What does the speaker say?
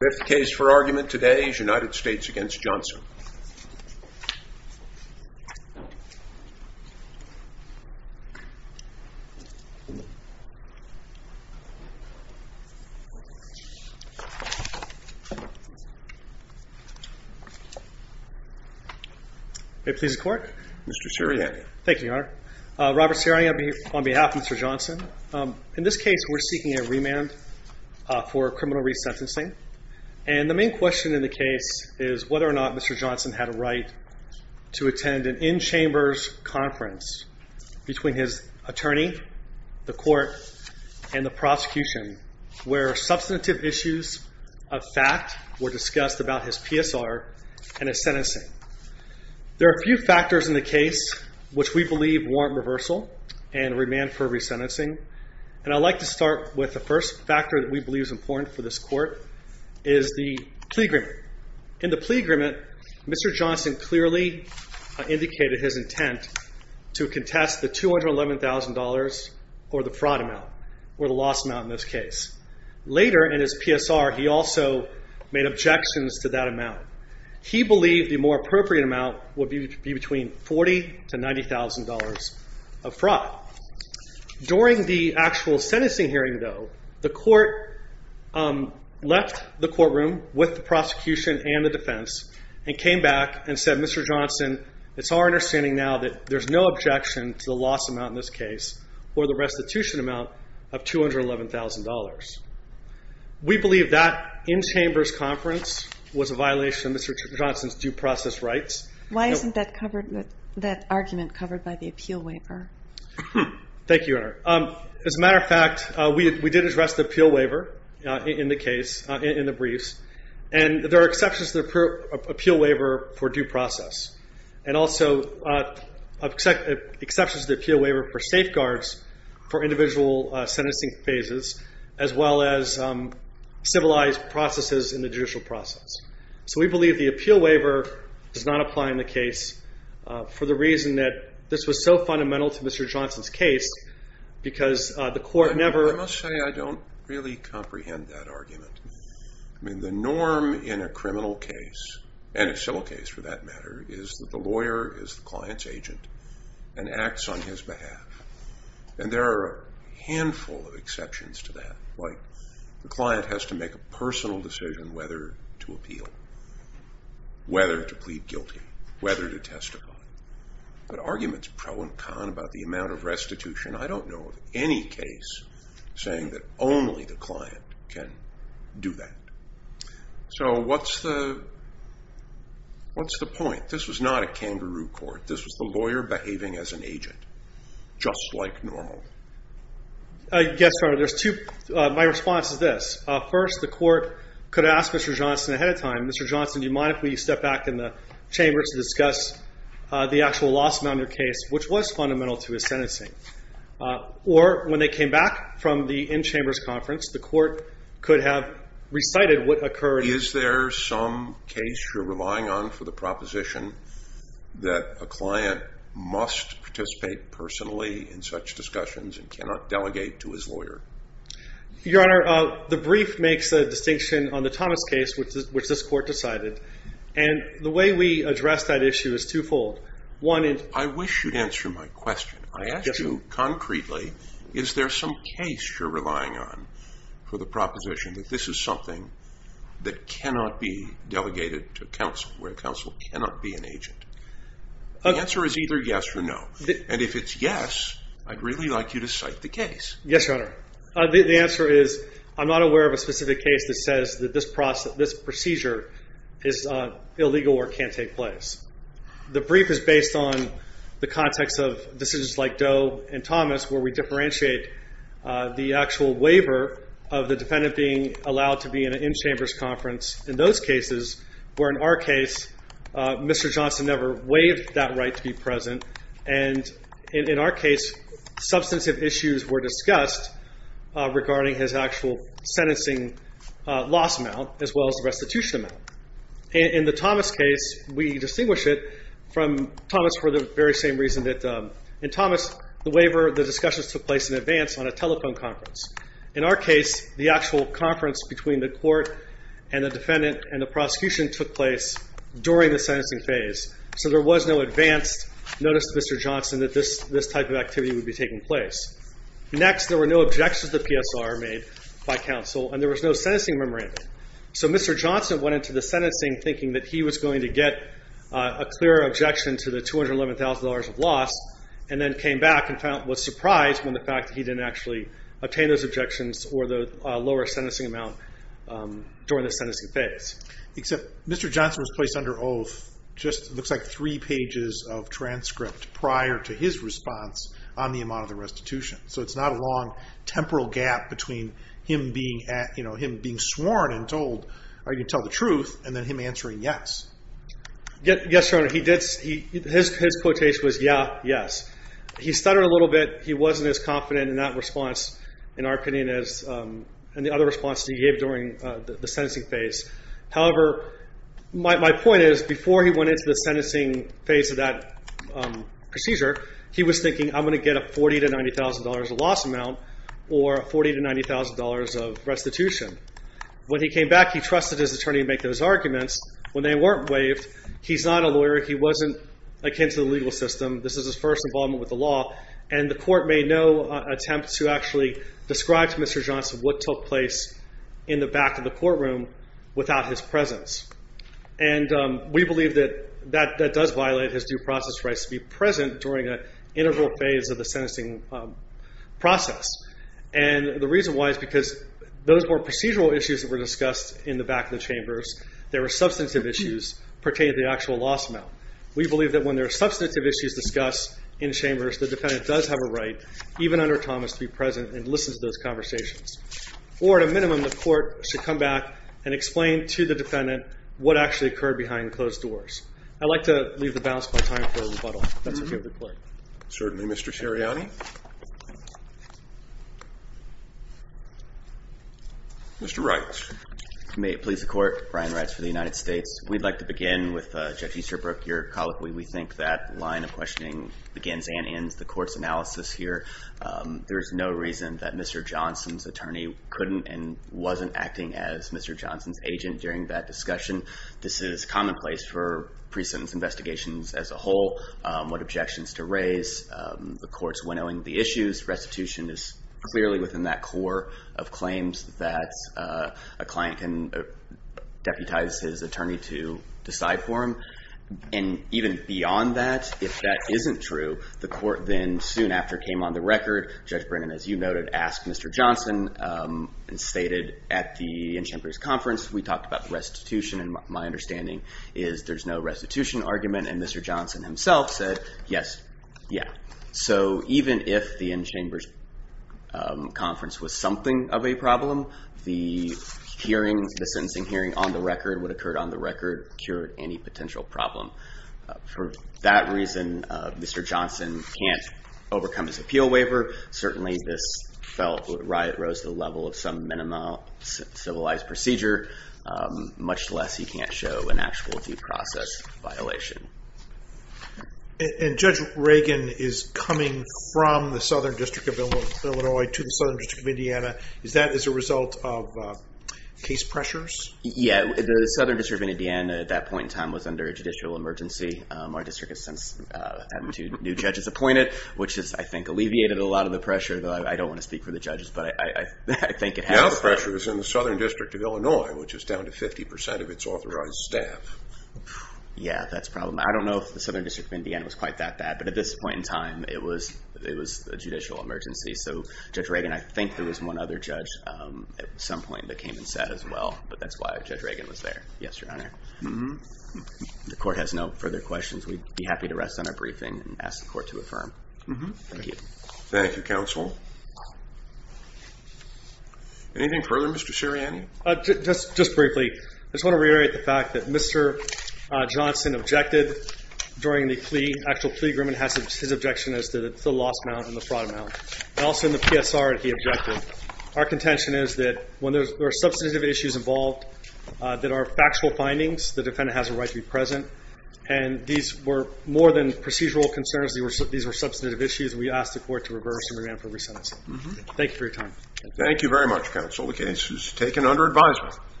Fifth case for argument today is United States v. Johnson Mr. Sirianni Robert Sirianni on behalf of Mr. Johnson In this case, we're seeking a remand for criminal resentencing And the main question in the case is whether or not Mr. Johnson had a right to attend an in-chambers conference between his attorney, the court, and the prosecution where substantive issues of fact were discussed about his PSR and his sentencing There are a few factors in the case which we believe warrant reversal and remand for resentencing And I'd like to start with the first factor that we believe is important for this court is the plea agreement In the plea agreement, Mr. Johnson clearly indicated his intent to contest the $211,000 or the fraud amount or the loss amount in this case Later in his PSR, he also made objections to that amount He believed the more appropriate amount would be between $40,000 to $90,000 of fraud During the actual sentencing hearing, though, the court left the courtroom with the prosecution and the defense and came back and said, Mr. Johnson, it's our understanding now that there's no objection to the loss amount in this case or the restitution amount of $211,000 We believe that in-chambers conference was a violation of Mr. Johnson's due process rights Why isn't that argument covered by the appeal waiver? Thank you, Your Honor As a matter of fact, we did address the appeal waiver in the case, in the briefs and there are exceptions to the appeal waiver for due process and also exceptions to the appeal waiver for safeguards for individual sentencing phases as well as civilized processes in the judicial process So we believe the appeal waiver does not apply in the case for the reason that this was so fundamental to Mr. Johnson's case because the court never I must say, I don't really comprehend that argument I mean, the norm in a criminal case and a civil case, for that matter is that the lawyer is the client's agent and acts on his behalf and there are a handful of exceptions to that The client has to make a personal decision whether to appeal whether to plead guilty whether to testify But arguments pro and con about the amount of restitution I don't know of any case saying that only the client can do that So what's the point? This was not a kangaroo court This was the lawyer behaving as an agent just like normal Yes, Your Honor, there's two My response is this First, the court could ask Mr. Johnson ahead of time Mr. Johnson, do you mind if we step back in the chamber to discuss the actual loss amount in your case which was fundamental to his sentencing Or, when they came back from the in-chambers conference the court could have recited what occurred Is there some case you're relying on for the proposition that a client must participate personally in such discussions and cannot delegate to his lawyer? Your Honor, the brief makes a distinction on the Thomas case which this court decided and the way we address that issue is two-fold I wish you'd answer my question I ask you concretely Is there some case you're relying on for the proposition that this is something that cannot be delegated to counsel where counsel cannot be an agent? The answer is either yes or no And if it's yes, I'd really like you to cite the case Yes, Your Honor The answer is I'm not aware of a specific case that says that this procedure is illegal or can't take place The brief is based on the context of decisions like Doe and Thomas where we differentiate the actual waiver of the defendant being allowed to be in an in-chambers conference In those cases, where in our case Mr. Johnson never waived that right to be present and in our case substantive issues were discussed regarding his actual sentencing loss amount as well as the restitution amount In the Thomas case, we distinguish it from Thomas for the very same reason that in Thomas, the waiver, the discussions took place in advance on a telephone conference In our case, the actual conference between the court and the defendant and the prosecution took place during the sentencing phase So there was no advance notice to Mr. Johnson that this type of activity would be taking place Next, there were no objections to the PSR made by counsel and there was no sentencing memorandum So Mr. Johnson went into the sentencing thinking that he was going to get a clear objection to the $211,000 of loss and then came back and was surprised when the fact that he didn't actually obtain those objections or the lower sentencing amount during the sentencing phase Except Mr. Johnson was placed under oath just looks like three pages of transcript prior to his response on the amount of the restitution So it's not a long temporal gap between him being sworn and told are you going to tell the truth and then him answering yes Yes, Your Honor, his quotation was, yeah, yes He stuttered a little bit He wasn't as confident in that response in our opinion as in the other responses he gave during the sentencing phase However, my point is before he went into the sentencing phase of that procedure he was thinking I'm going to get a $40,000 to $90,000 loss amount or $40,000 to $90,000 of restitution When he came back he trusted his attorney to make those arguments When they weren't waived he's not a lawyer He wasn't akin to the legal system This is his first involvement with the law and the court made no attempt to actually describe to Mr. Johnson what took place in the back of the courtroom without his presence And we believe that that does violate his due process rights to be present during an integral phase of the sentencing process And the reason why is because those were procedural issues that were discussed in the back of the chambers There were substantive issues pertaining to the actual loss amount We believe that when there are substantive issues discussed in chambers, the defendant does have a right even under Thomas to be present and listen to those conversations Or at a minimum, the court should come back and explain to the defendant what actually occurred behind closed doors I'd like to leave the balance of my time for rebuttal If that's okay with the court Certainly, Mr. Ceriotti Mr. Wright May it please the court Brian Wright for the United States We'd like to begin with Judge Easterbrook, your colleague We think that line of questioning begins and ends the court's analysis here There's no reason that Mr. Johnson's attorney couldn't and wasn't acting as Mr. Johnson's agent during that discussion This is commonplace for pre-sentence investigations as a whole What objections to raise The court's winnowing the issues Restitution is clearly within that core of claims that a client can deputize his attorney to decide for him And even beyond that, if that isn't true the court then soon after came on the record Judge Brennan, as you noted asked Mr. Johnson and stated at the in-chambers conference we talked about restitution and my understanding is there's no restitution argument and Mr. Johnson himself said yes, yeah So even if the in-chambers conference was something of a problem the hearings, the sentencing hearing on the record, what occurred on the record cured any potential problem For that reason, Mr. Johnson can't overcome his appeal waiver Certainly, this felt, it rose to the level of some minimal civilized procedure much less he can't show an actual due process violation And Judge Reagan is coming from the Southern District of Illinois to the Southern District of Indiana Is that as a result of case pressures? Yeah, the Southern District of Indiana at that point in time was under a judicial emergency Our district has since had two new judges appointed which has, I think, alleviated a lot of the pressure I don't want to speak for the judges but I think it has Now the pressure is in the Southern District of Illinois which is down to 50% of its authorized staff Yeah, that's probably I don't know if the Southern District of Indiana was quite that bad but at this point in time it was a judicial emergency So Judge Reagan, I think there was one other judge at some point that came and said as well but that's why Judge Reagan was there Yes, Your Honor The court has no further questions We'd be happy to rest on our briefing and ask the court to affirm Thank you Thank you, Counsel Anything further, Mr. Sirianni? Just briefly I just want to reiterate the fact that Mr. Johnson objected during the plea actual plea agreement his objection is that it's the loss amount and the fraud amount Also in the PSR he objected Our contention is that when there are substantive issues involved that are factual findings the defendant has a right to be present and these were more than procedural concerns these were substantive issues We ask the court to reverse and revamp every sentence Thank you for your time Thank you very much, Counsel The case is taken under advisement